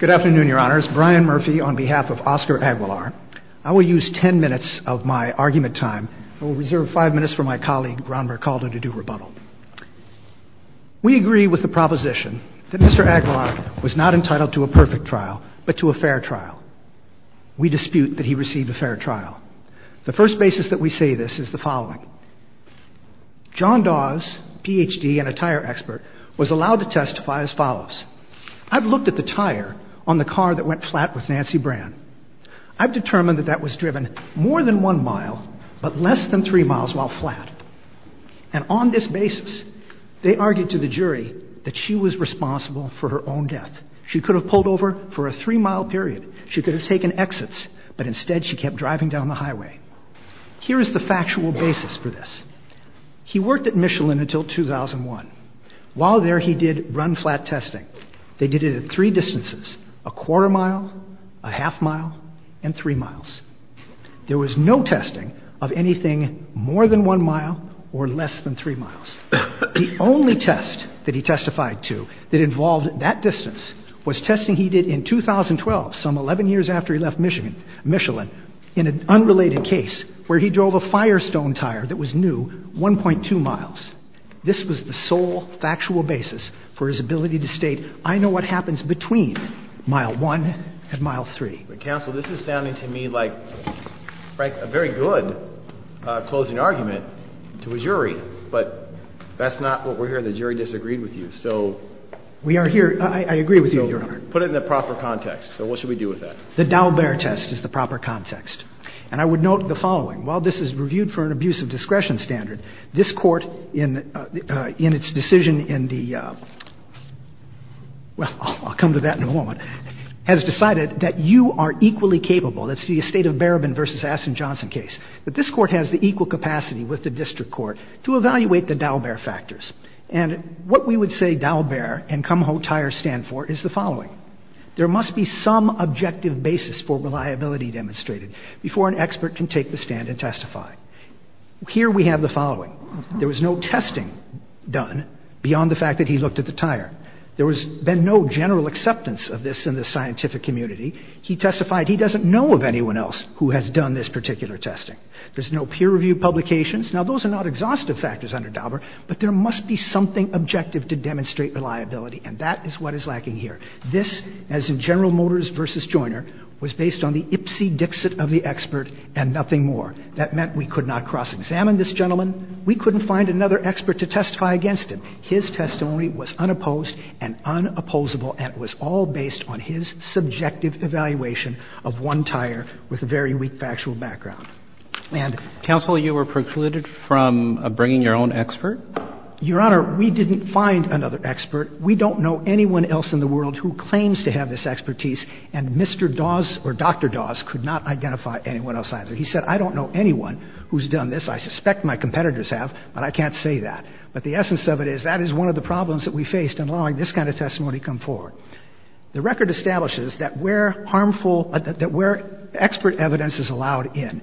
Good afternoon, Your Honors. Brian Murphy on behalf of Oscar Aguilar. I will use ten minutes of my argument time. I will reserve five minutes for my colleague, Ron Mercaldo, to do rebuttal. We agree with the proposition that Mr. Aguilar was not entitled to a perfect trial, but to a fair trial. We dispute that he received a fair trial. The first basis that we say this is the following. John Dawes, Ph.D. and a tire expert, was allowed to testify as follows. I've looked at the tire on the car that went flat with Nancy Brand. I've determined that that was driven more than one mile, but less than three miles while flat. And on this basis, they argued to the jury that she was responsible for her own death. She could have pulled over for a three-mile period. She could have taken exits, but instead she kept driving down the highway. Here is the factual basis for this. He worked at Michelin until 2001. While there, he did run-flat testing. They did it at three distances, a quarter mile, a half mile, and three miles. There was no testing of anything more than one mile or less than three miles. The only test that he testified to that involved that distance was testing he did in 2012, some 11 years after he left Michelin, in an unrelated case where he drove a Firestone tire that was new, 1.2 miles. This was the sole factual basis for his ability to state, I know what happens between mile one and mile three. Counsel, this is sounding to me like a very good closing argument to a jury, but that's not what we're hearing. The jury disagreed with you. Put it in the proper context. So what should we do with that? The Daubert test is the proper context. And I would note the following. While this is reviewed for an abuse of discretion standard, this Court, in its decision in the, well, I'll come to that in a moment, has decided that you are equally capable, that's the estate of Barabin v. Aston Johnson case, that this Court has the equal capacity with the district court to evaluate the Daubert factors. And what we would say Daubert and Kumho tire stand for is the following. There must be some objective basis for reliability demonstrated before an expert can take the stand and testify. Here we have the following. There was no testing done beyond the fact that he looked at the tire. There has been no general acceptance of this in the scientific community. He testified he doesn't know of anyone else who has done this particular testing. There's no peer-reviewed publications. Now, those are not exhaustive factors under Daubert, but there must be something objective to demonstrate reliability, and that is what is lacking here. This, as in General Motors v. Joyner, was based on the ipsy-dixit of the expert and nothing more. That meant we could not cross-examine this gentleman. We couldn't find another expert to testify against him. His testimony was unopposed and unopposable and was all based on his subjective evaluation of one tire with a very weak factual background. And Counsel, you were precluded from bringing your own expert? Your Honor, we didn't find another expert. We don't know anyone else in the world who claims to have this expertise, and Mr. Dawes or Dr. Dawes could not identify anyone else either. He said, I don't know anyone who's done this. I suspect my competitors have, but I can't say that. But the essence of it is that is one of the problems that we faced in allowing this kind of testimony to come forward. The record establishes that where harmful, that where expert evidence is allowed in,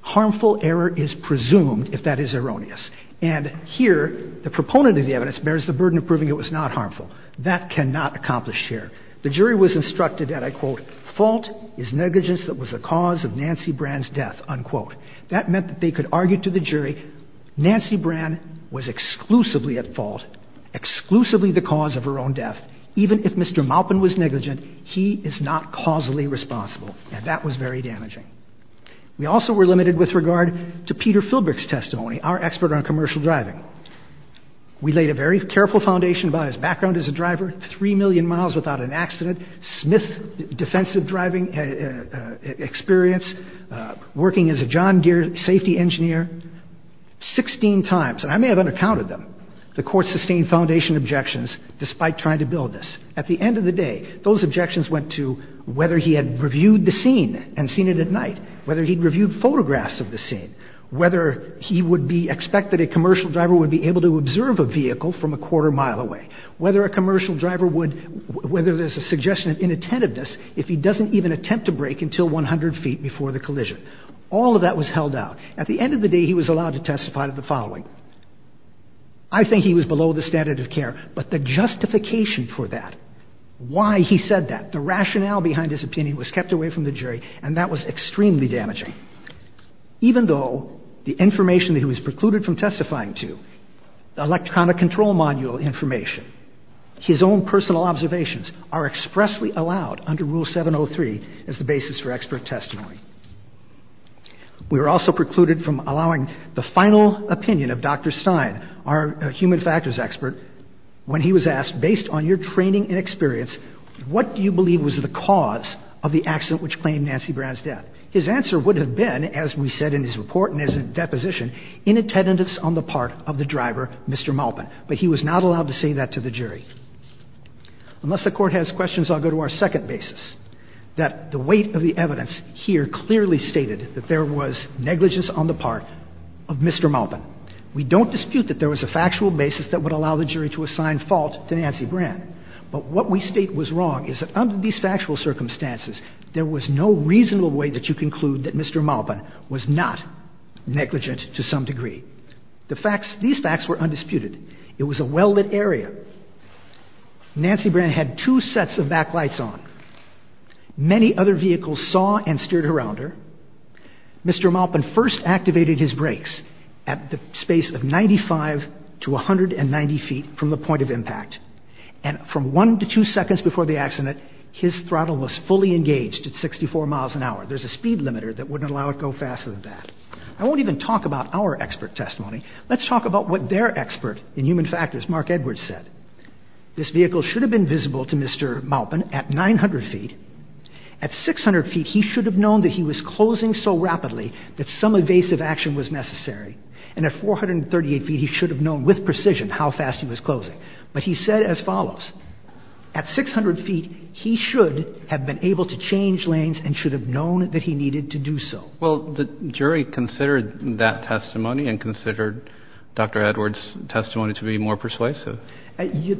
harmful error is presumed if that is erroneous. And here the proponent of the evidence bears the burden of proving it was not harmful. That cannot accomplish here. The jury was instructed that, I quote, fault is negligence that was the cause of Nancy Brand's death, unquote. That meant that they could argue to the jury Nancy Brand was exclusively at fault, exclusively the cause of her own death. Even if Mr. Maupin was negligent, he is not causally responsible. And that was very damaging. We also were limited with regard to Peter Philbrick's testimony, our expert on commercial driving. We laid a very careful foundation about his background as a driver, 3 million miles without an accident, Smith defensive driving experience, working as a John Gear safety engineer, 16 times. And I may have undercounted them. The court sustained foundation objections despite trying to build this. At the end of the day, those objections went to whether he had reviewed the scene and seen it at night, whether he'd reviewed photographs of the scene, whether he would be expected a commercial driver would be able to observe a vehicle from a quarter mile away, whether a commercial driver would, whether there's a suggestion of inattentiveness if he doesn't even attempt to brake until 100 feet before the collision. All of that was held out. At the end of the day, he was allowed to testify to the following. I think he was below the standard of care, but the justification for that, why he said that, the rationale behind his opinion was kept away from the jury, and that was extremely damaging. Even though the information that he was precluded from testifying to, the electronic control module information, his own personal observations are expressly allowed under Rule 703 as the basis for expert testimony. We were also precluded from allowing the final opinion of Dr. Stein, our human factors expert, when he was asked, based on your training and experience, what do you believe was the cause of the accident which claimed Nancy Brown's death? His answer would have been, as we said in his report and his deposition, inattentiveness on the part of the driver, Mr. Maupin, but he was not allowed to say that to the jury. Unless the Court has questions, I'll go to our second basis, that the weight of the evidence here clearly stated that there was negligence on the part of Mr. Maupin. We don't dispute that there was a factual basis that would allow the jury to assign fault to Nancy Brown, but what we state was wrong is that under these factual circumstances, there was no reasonable way that you conclude that Mr. Maupin was not negligent to some degree. These facts were undisputed. It was a well-lit area. Nancy Brown had two sets of backlights on. Many other vehicles saw and steered around her. Mr. Maupin first activated his brakes at the space of 95 to 190 feet from the point of impact, and from one to two seconds before the accident, his throttle was fully engaged at 64 miles an hour. There's a speed limiter that wouldn't allow it to go faster than that. I won't even talk about our expert testimony. Let's talk about what their expert in human factors, Mark Edwards, said. This vehicle should have been visible to Mr. Maupin at 900 feet. At 600 feet, he should have known that he was closing so rapidly that some evasive action was necessary. And at 438 feet, he should have known with precision how fast he was closing. But he said as follows. At 600 feet, he should have been able to change lanes and should have known that he needed to do so. Well, the jury considered that testimony and considered Dr. Edwards' testimony to be more persuasive.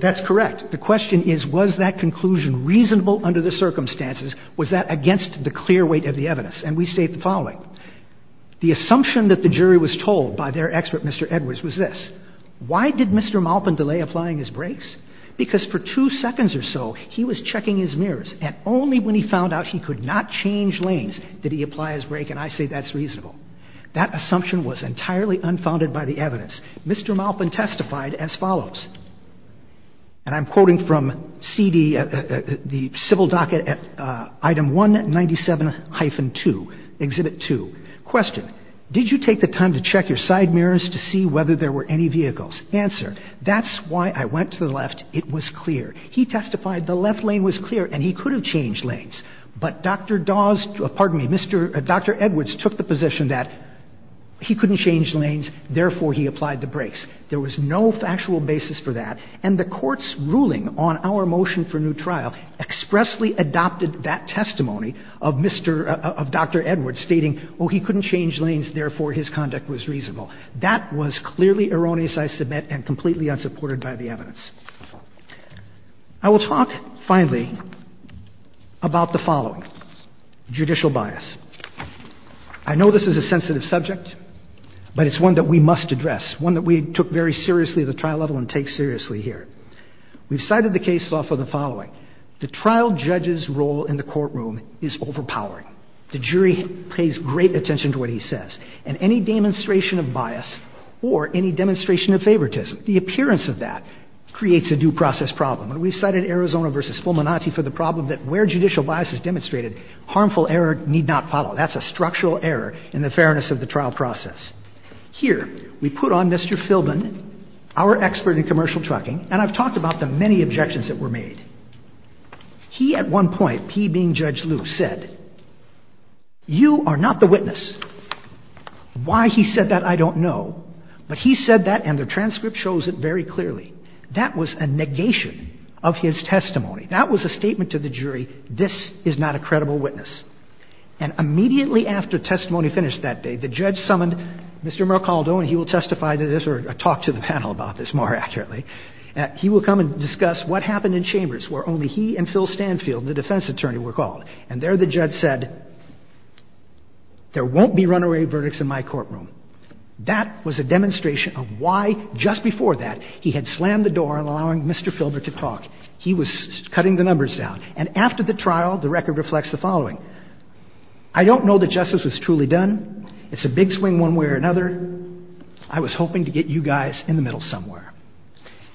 That's correct. The question is, was that conclusion reasonable under the circumstances? Was that against the clear weight of the evidence? And we state the following. The assumption that the jury was told by their expert, Mr. Edwards, was this. Why did Mr. Maupin delay applying his brakes? Because for two seconds or so, he was checking his mirrors, and only when he found out he could not change lanes did he apply his brake, and I say that's reasonable. That assumption was entirely unfounded by the evidence. Mr. Maupin testified as follows. And I'm quoting from the civil docket at item 197-2, exhibit 2. Question. Did you take the time to check your side mirrors to see whether there were any vehicles? Answer. That's why I went to the left. It was clear. He testified the left lane was clear, and he could have changed lanes. But Dr. Dawes, pardon me, Dr. Edwards took the position that he couldn't change lanes, therefore he applied the brakes. There was no factual basis for that. And the Court's ruling on our motion for new trial expressly adopted that testimony of Mr. — of Dr. Edwards, stating, oh, he couldn't change lanes, therefore his conduct was reasonable. That was clearly erroneous, I submit, and completely unsupported by the evidence. I will talk, finally, about the following, judicial bias. I know this is a sensitive subject, but it's one that we must address, one that we took very seriously at the trial level and take seriously here. We've cited the case law for the following. The trial judge's role in the courtroom is overpowering. The jury pays great attention to what he says. And any demonstration of bias or any demonstration of favoritism, the appearance of that creates a due process problem. And we've cited Arizona v. Fulminati for the problem that where judicial bias is demonstrated, harmful error need not follow. That's a structural error in the fairness of the trial process. Here, we put on Mr. Filbin, our expert in commercial trucking, and I've talked about the many objections that were made. He, at one point, he being Judge Liu, said, you are not the witness. Why he said that, I don't know. But he said that, and the transcript shows it very clearly. That was a negation of his testimony. That was a statement to the jury, this is not a credible witness. And immediately after testimony finished that day, the judge summoned Mr. Mercaldo, and he will testify to this or talk to the panel about this more accurately. He will come and discuss what happened in Chambers where only he and Phil Stanfield, the defense attorney, were called. And there the judge said, there won't be runaway verdicts in my courtroom. That was a demonstration of why, just before that, he had slammed the door on allowing Mr. Filbin to talk. He was cutting the numbers down. And after the trial, the record reflects the following. I don't know that justice was truly done. It's a big swing one way or another. I was hoping to get you guys in the middle somewhere.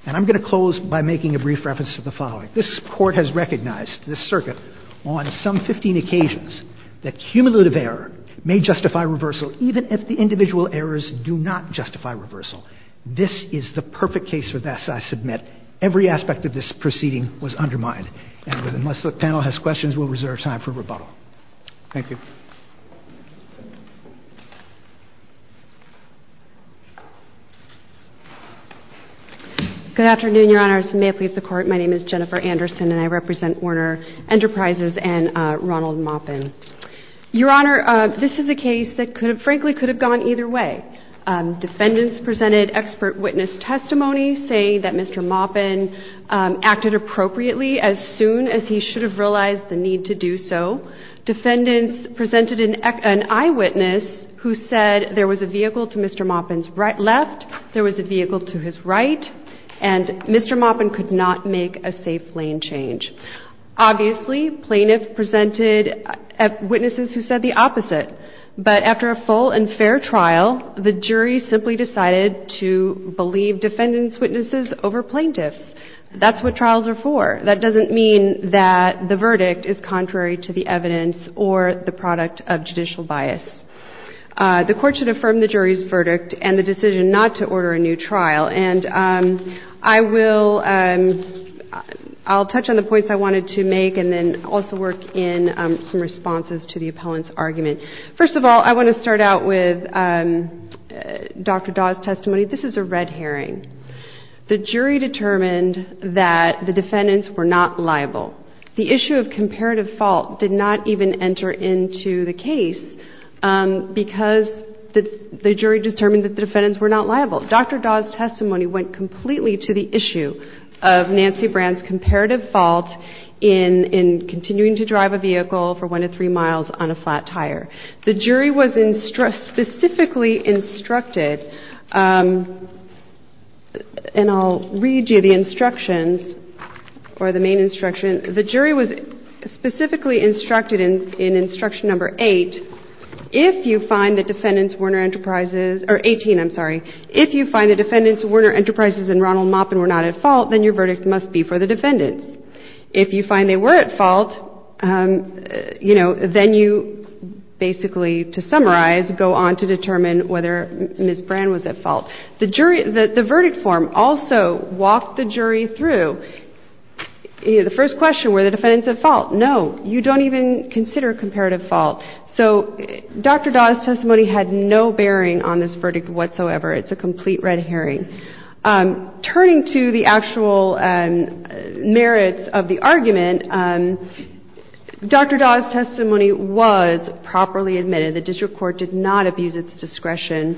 And I'm going to close by making a brief reference to the following. This Court has recognized this circuit on some 15 occasions that cumulative error may justify reversal, even if the individual errors do not justify reversal. This is the perfect case for this, I submit. Every aspect of this proceeding was undermined. And unless the panel has questions, we'll reserve time for rebuttal. Thank you. Good afternoon, Your Honors. May it please the Court, my name is Jennifer Anderson, and I represent Warner Enterprises and Ronald Maupin. Your Honor, this is a case that frankly could have gone either way. Defendants presented expert witness testimony saying that Mr. Maupin acted appropriately as soon as he should have realized the need to do so. Defendants presented an eyewitness who said there was a vehicle to Mr. Maupin's left, there was a vehicle to his right, and Mr. Maupin could not make a safe lane change. Obviously, plaintiffs presented witnesses who said the opposite. But after a full and fair trial, the jury simply decided to believe defendants' witnesses over plaintiffs. That's what trials are for. That doesn't mean that the verdict is contrary to the evidence or the product of judicial bias. The Court should affirm the jury's verdict and the decision not to order a new trial. And I will touch on the points I wanted to make and then also work in some responses to the appellant's argument. First of all, I want to start out with Dr. Dawe's testimony. This is a red herring. The jury determined that the defendants were not liable. The issue of comparative fault did not even enter into the case because the jury determined that the defendants were not liable. Dr. Dawe's testimony went completely to the issue of Nancy Brand's comparative fault in continuing to drive a vehicle for one to three miles on a flat tire. The jury was specifically instructed, and I'll read you the instructions or the main instruction. The jury was specifically instructed in instruction number eight, if you find that defendants Werner Enterprises or 18, I'm sorry, if you find that defendants Werner Enterprises and Ronald Maupin were not at fault, then your verdict must be for the defendants. If you find they were at fault, you know, then you basically, to summarize, go on to determine whether Ms. Brand was at fault. The jury, the verdict form also walked the jury through. The first question, were the defendants at fault? No. You don't even consider comparative fault. So Dr. Dawe's testimony had no bearing on this verdict whatsoever. It's a complete red herring. Turning to the actual merits of the argument, Dr. Dawe's testimony was properly admitted. The district court did not abuse its discretion.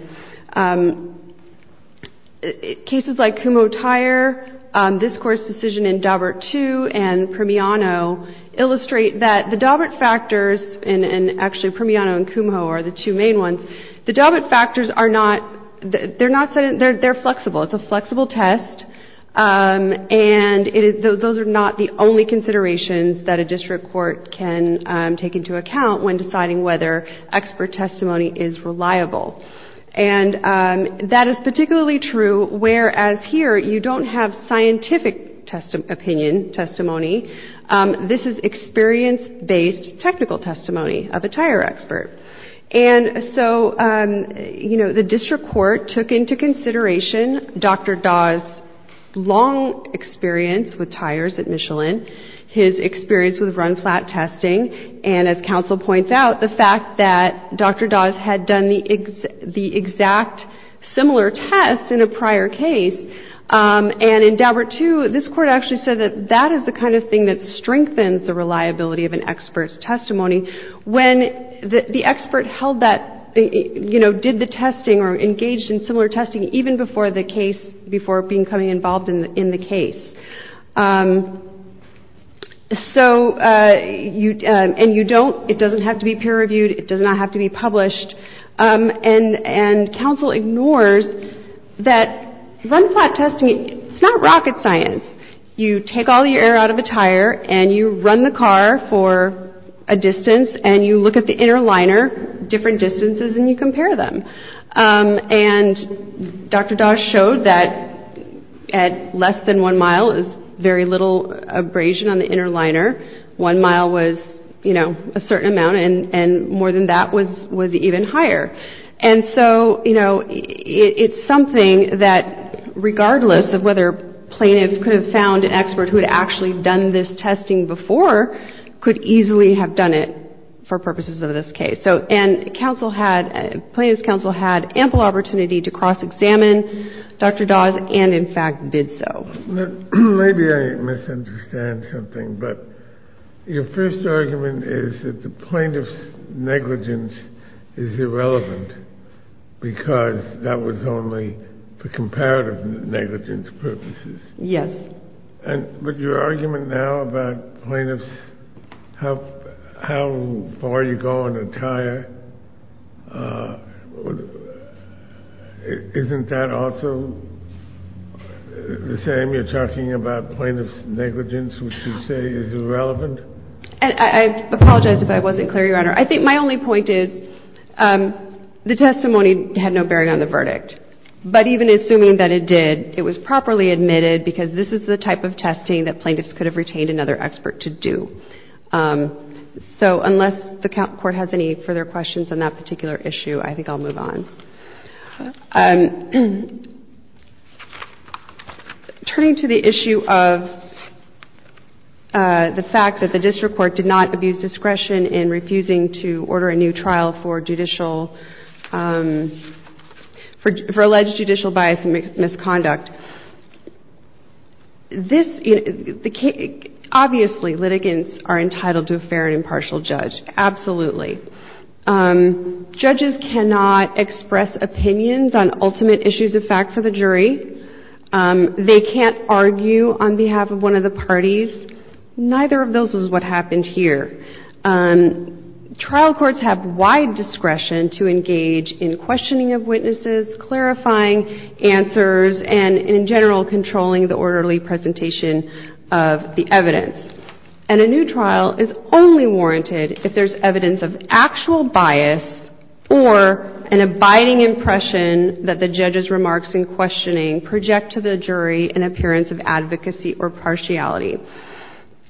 Cases like Kumho Tire, this Court's decision in Daubert II and Primiano illustrate that the Daubert factors, and actually Primiano and Kumho are the two main ones, the Daubert factors are not, they're flexible. It's a flexible test, and those are not the only considerations that a district court can take into account when deciding whether expert testimony is reliable. And that is particularly true whereas here you don't have scientific opinion testimony. This is experience-based technical testimony of a tire expert. And so, you know, the district court took into consideration Dr. Dawe's long experience with tires at Michelin, his experience with run-flat testing, and as counsel points out, the fact that Dr. Dawe's had done the exact similar test in a prior case, and in Daubert II, this Court actually said that that is the kind of thing that strengthens the reliability of an expert's testimony when the expert held that, you know, did the testing or engaged in similar testing even before the case, before becoming involved in the case. So, and you don't, it doesn't have to be peer-reviewed, it does not have to be published, and counsel ignores that run-flat testing, it's not rocket science. You take all your air out of a tire and you run the car for a distance and you look at the inner liner, different distances, and you compare them. And Dr. Dawe showed that at less than one mile is very little abrasion on the inner liner. One mile was, you know, a certain amount, and more than that was even higher. And so, you know, it's something that regardless of whether plaintiffs could have found an expert who had actually done this testing before, could easily have done it for purposes of this case. So, and counsel had, plaintiff's counsel had ample opportunity to cross-examine Dr. Dawe's and, in fact, did so. Maybe I misunderstand something, but your first argument is that the plaintiff's negligence is irrelevant because that was only for comparative negligence purposes. Yes. But your argument now about plaintiffs, how far you go in a tire, isn't that also the same? You're talking about plaintiff's negligence, which you say is irrelevant? I apologize if I wasn't clear, Your Honor. I think my only point is the testimony had no bearing on the verdict. But even assuming that it did, it was properly admitted because this is the type of testing that plaintiffs could have retained another expert to do. So unless the court has any further questions on that particular issue, I think I'll move on. Turning to the issue of the fact that the district court did not abuse discretion in refusing to order a new trial for judicial, for alleged judicial bias and misconduct, this, obviously, litigants are entitled to a fair and impartial judge. Absolutely. Judges cannot express opinions on ultimate issues of fact for the jury. They can't argue on behalf of one of the parties. Neither of those is what happened here. Trial courts have wide discretion to engage in questioning of witnesses, clarifying answers, and, in general, controlling the orderly presentation of the evidence. And a new trial is only warranted if there's evidence of actual bias or an abiding impression that the judge's remarks in questioning project to the jury an appearance of advocacy or partiality.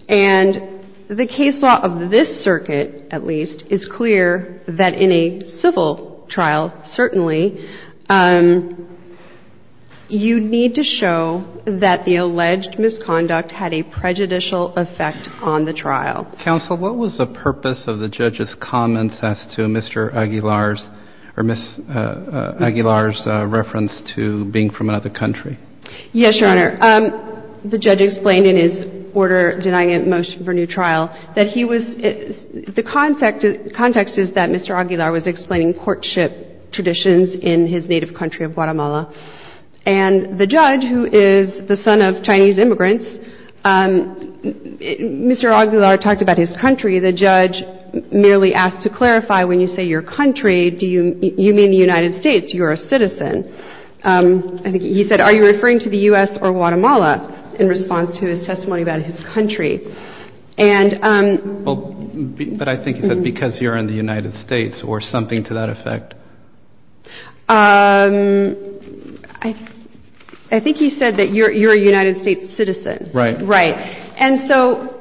And the case law of this circuit, at least, is clear that in a civil trial, certainly, you need to show that the alleged misconduct had a prejudicial effect on the trial. Counsel, what was the purpose of the judge's comments as to Mr. Aguilar's or Ms. Aguilar's reference to being from another country? Yes, Your Honor. The judge explained in his order denying a motion for new trial that he was — the context is that Mr. Aguilar was explaining courtship traditions in his native country of Guatemala. And the judge, who is the son of Chinese immigrants, Mr. Aguilar talked about his country. The judge merely asked to clarify, when you say your country, do you mean the United States? You're a citizen. I think he said, are you referring to the U.S. or Guatemala in response to his testimony about his country? And — But I think he said, because you're in the United States or something to that effect. I think he said that you're a United States citizen. Right. Right. And so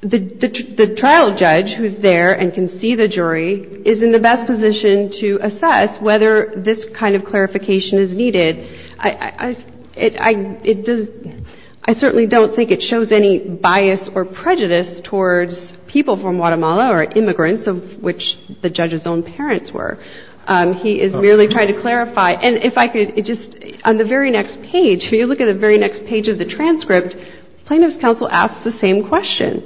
the trial judge, who's there and can see the jury, is in the best position to assess whether this kind of clarification is needed. I certainly don't think it shows any bias or prejudice towards people from Guatemala or immigrants, of which the judge's own parents were. He is merely trying to clarify. And if I could just — on the very next page, if you look at the very next page of the transcript, plaintiff's counsel asks the same question.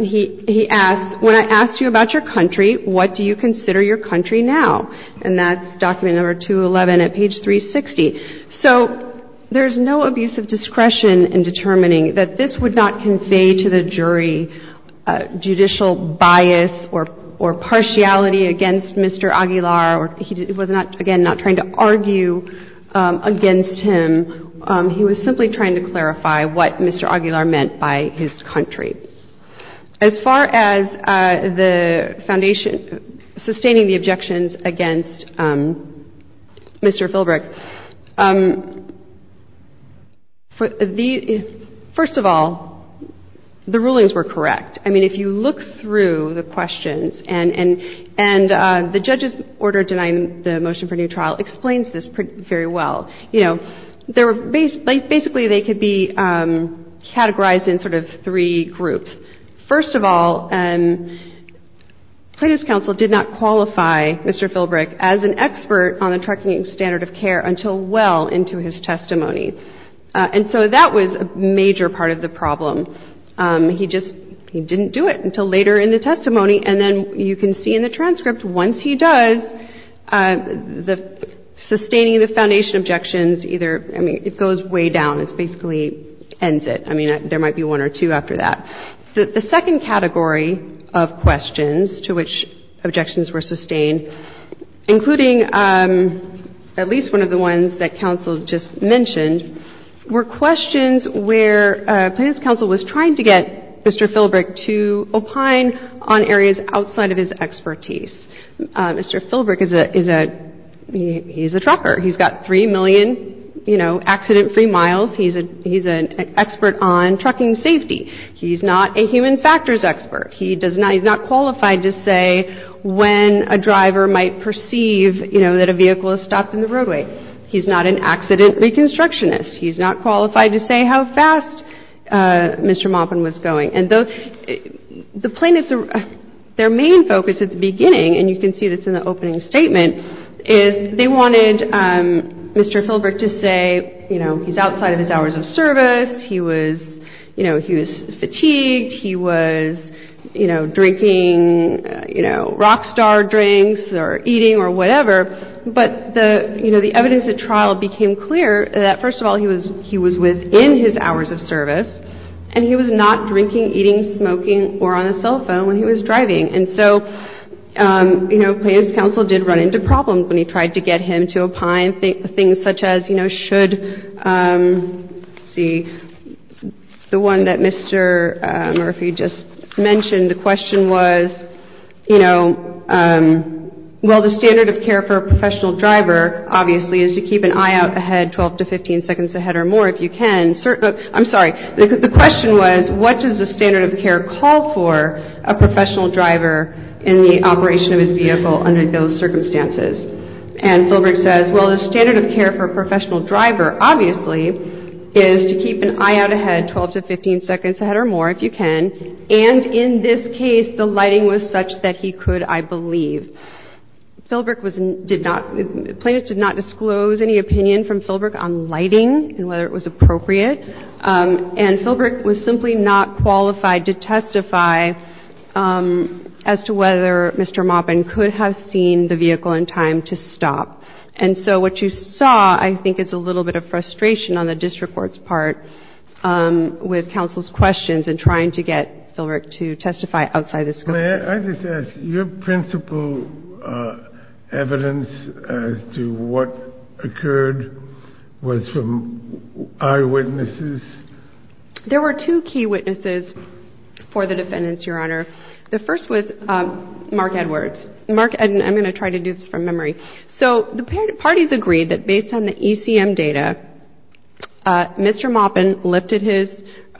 He asks, when I asked you about your country, what do you consider your country now? And that's document number 211 at page 360. So there's no abuse of discretion in determining that this would not convey to the jury judicial bias or partiality against Mr. Aguilar. He was not, again, not trying to argue against him. He was simply trying to clarify what Mr. Aguilar meant by his country. As far as the Foundation sustaining the objections against Mr. Philbrick, first of all, the rulings were correct. I mean, if you look through the questions, and the judge's order denying the motion for new trial explains this very well. Basically, they could be categorized in sort of three groups. First of all, plaintiff's counsel did not qualify Mr. Philbrick as an expert on the tracking standard of care until well into his testimony. And so that was a major part of the problem. He just — he didn't do it until later in the testimony. And then you can see in the transcript, once he does, sustaining the Foundation objections either — I mean, it goes way down. It basically ends it. I mean, there might be one or two after that. The second category of questions to which objections were sustained, including at least one of the ones that counsel just mentioned, were questions where plaintiff's counsel was trying to get Mr. Philbrick to opine on areas outside of his expertise. Mr. Philbrick is a — he's a trucker. He's got 3 million, you know, accident-free miles. He's an expert on trucking safety. He's not a human factors expert. He does not — he's not qualified to say when a driver might perceive, you know, that a vehicle has stopped in the roadway. He's not an accident reconstructionist. He's not qualified to say how fast Mr. Maupin was going. And the plaintiff's — their main focus at the beginning, and you can see this in the opening statement, is they wanted Mr. Philbrick to say, you know, he's outside of his hours of service. He was, you know, he was fatigued. He was, you know, drinking, you know, rock star drinks or eating or whatever. But the, you know, the evidence at trial became clear that, first of all, he was — he was within his hours of service and he was not drinking, eating, smoking or on a cell phone when he was driving. And so, you know, plaintiff's counsel did run into problems when he tried to get him to opine things such as, you know, should — let's see, the one that Mr. Murphy just mentioned. The question was, you know, well, the standard of care for a professional driver, obviously, is to keep an eye out ahead 12 to 15 seconds ahead or more if you can. I'm sorry, the question was, what does the standard of care call for a professional driver in the operation of his vehicle under those circumstances? And Philbrick says, well, the standard of care for a professional driver, obviously, is to keep an eye out ahead 12 to 15 seconds ahead or more if you can. And in this case, the lighting was such that he could, I believe. Philbrick was — did not — plaintiff did not disclose any opinion from Philbrick on lighting and whether it was appropriate. And Philbrick was simply not qualified to testify as to whether Mr. Maupin could have seen the vehicle in time to stop. And so what you saw, I think, is a little bit of frustration on the district court's part with counsel's questions in trying to get Philbrick to testify outside the scope of this case. I just ask, your principal evidence as to what occurred was from eyewitnesses? There were two key witnesses for the defendants, Your Honor. The first was Mark Edwards. Mark — and I'm going to try to do this from memory. So the parties agreed that based on the ECM data, Mr. Maupin lifted his —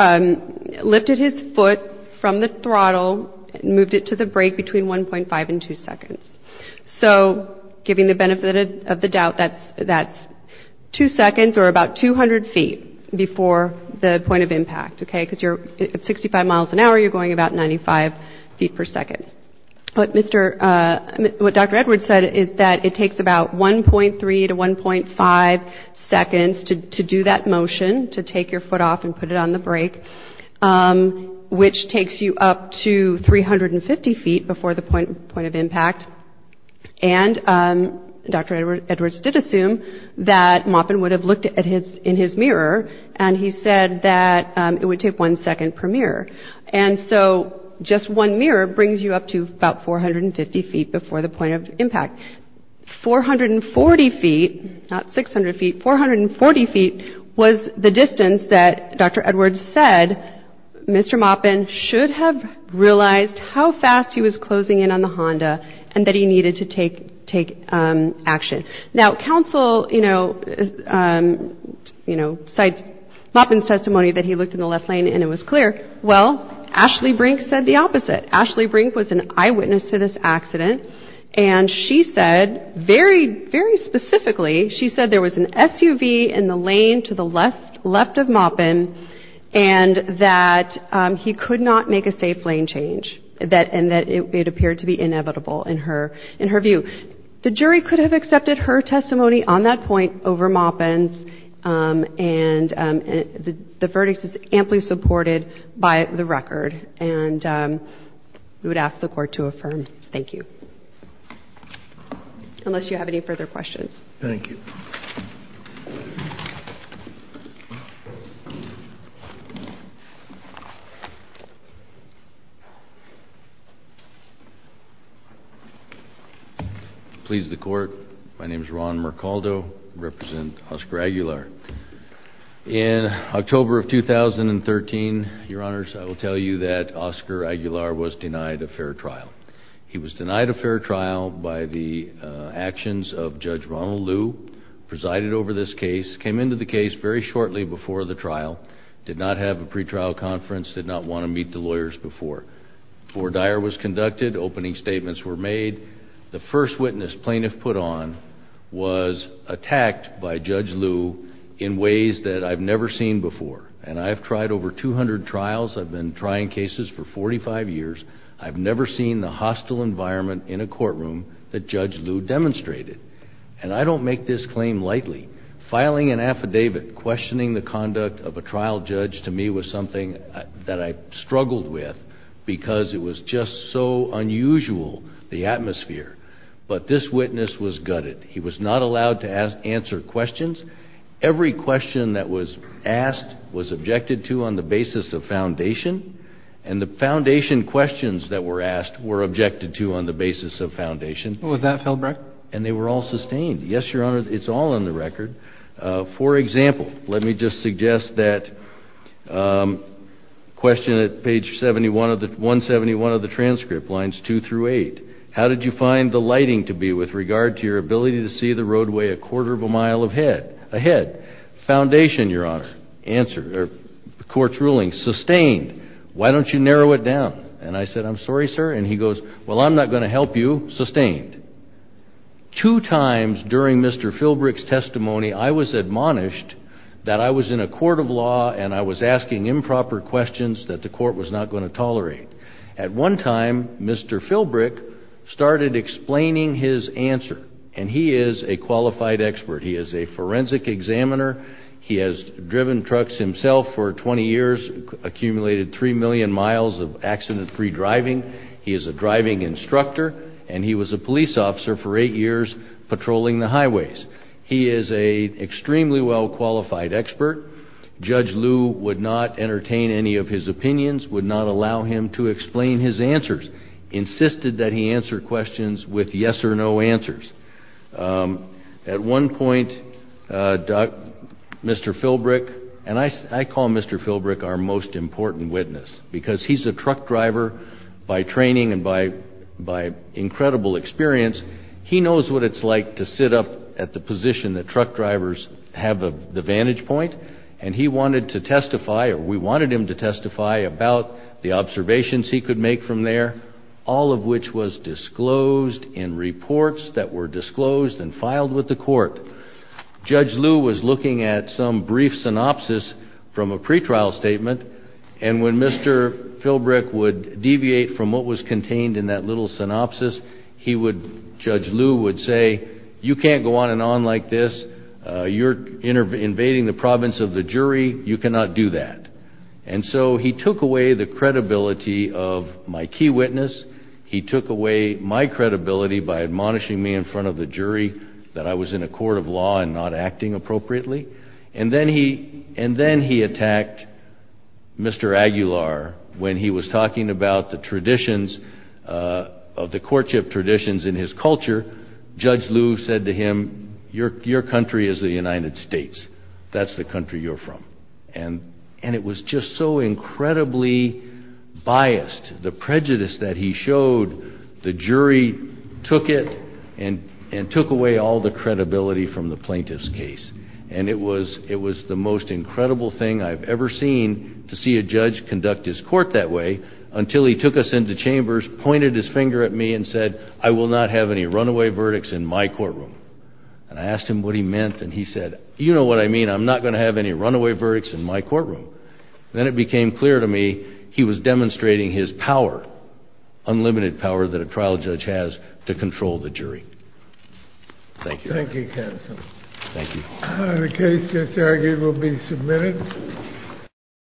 lifted his foot from the throttle and moved it to the brake between 1.5 and 2 seconds. So giving the benefit of the doubt, that's 2 seconds or about 200 feet before the point of impact, okay, because you're — at 65 miles an hour, you're going about 95 feet per second. But Mr. — what Dr. Edwards said is that it takes about 1.3 to 1.5 seconds to do that motion, to take your foot off and put it on the brake, which takes you up to 350 feet before the point of impact. And Dr. Edwards did assume that Maupin would have looked at his — in his mirror, and he said that it would take one second per mirror. And so just one mirror brings you up to about 450 feet before the point of impact. 440 feet — not 600 feet — 440 feet was the distance that Dr. Edwards said Mr. Maupin should have realized how fast he was closing in on the Honda and that he needed to take — take action. Now, counsel, you know, you know, cites Maupin's testimony that he looked in the left lane and it was clear. Well, Ashley Brink said the opposite. Ashley Brink was an eyewitness to this accident, and she said — very, very specifically, she said there was an SUV in the lane to the left of Maupin and that he could not make a safe lane change, and that it appeared to be inevitable in her view. The jury could have accepted her testimony on that point over Maupin's, and the verdict is amply supported by the record, and we would ask the Court to affirm. Thank you. Unless you have any further questions. Thank you. Please, the Court. My name is Ron Mercaldo. I represent Oscar Aguilar. In October of 2013, Your Honors, I will tell you that Oscar Aguilar was denied a fair trial. He was denied a fair trial by the actions of Judge Ronald Liu, presided over this case, came into the case very shortly before the trial, did not have a pretrial conference, did not want to meet the lawyers before. Before Dyer was conducted, opening statements were made. The first witness plaintiff put on was attacked by Judge Liu in ways that I've never seen before, and I've tried over 200 trials. I've been trying cases for 45 years. I've never seen the hostile environment in a courtroom that Judge Liu demonstrated, and I don't make this claim lightly. Filing an affidavit questioning the conduct of a trial judge to me was something that I struggled with because it was just so unusual, the atmosphere. But this witness was gutted. He was not allowed to answer questions. Every question that was asked was objected to on the basis of foundation, and the foundation questions that were asked were objected to on the basis of foundation. Was that failed record? And they were all sustained. Yes, Your Honor, it's all on the record. For example, let me just suggest that question at page 171 of the transcript, lines 2 through 8. How did you find the lighting to be with regard to your ability to see the roadway a quarter of a mile ahead? Foundation, Your Honor, court's ruling, sustained. Why don't you narrow it down? And I said, I'm sorry, sir, and he goes, well, I'm not going to help you. Sustained. Two times during Mr. Philbrick's testimony, I was admonished that I was in a court of law and I was asking improper questions that the court was not going to tolerate. At one time, Mr. Philbrick started explaining his answer, and he is a qualified expert. He is a forensic examiner. He has driven trucks himself for 20 years, accumulated 3 million miles of accident-free driving. He is a driving instructor, and he was a police officer for 8 years patrolling the highways. He is an extremely well-qualified expert. Judge Liu would not entertain any of his opinions, would not allow him to explain his answers, insisted that he answer questions with yes or no answers. At one point, Mr. Philbrick, and I call Mr. Philbrick our most important witness because he's a truck driver by training and by incredible experience, he knows what it's like to sit up at the position that truck drivers have the vantage point, and he wanted to testify, or we wanted him to testify about the observations he could make from there, all of which was disclosed in reports that were disclosed and filed with the court. Judge Liu was looking at some brief synopsis from a pretrial statement, and when Mr. Philbrick would deviate from what was contained in that little synopsis, Judge Liu would say, you can't go on and on like this. You're invading the province of the jury. You cannot do that. And so he took away the credibility of my key witness. He took away my credibility by admonishing me in front of the jury that I was in a court of law and not acting appropriately. And then he attacked Mr. Aguilar when he was talking about the traditions of the courtship traditions in his culture. Judge Liu said to him, your country is the United States. That's the country you're from. And it was just so incredibly biased. The prejudice that he showed, the jury took it and took away all the credibility from the plaintiff's case. And it was the most incredible thing I've ever seen to see a judge conduct his court that way until he took us into chambers, pointed his finger at me and said, I will not have any runaway verdicts in my courtroom. And I asked him what he meant, and he said, you know what I mean. I'm not going to have any runaway verdicts in my courtroom. Then it became clear to me he was demonstrating his power, unlimited power that a trial judge has to control the jury. Thank you. Thank you, counsel. Thank you. The case is argued and will be submitted.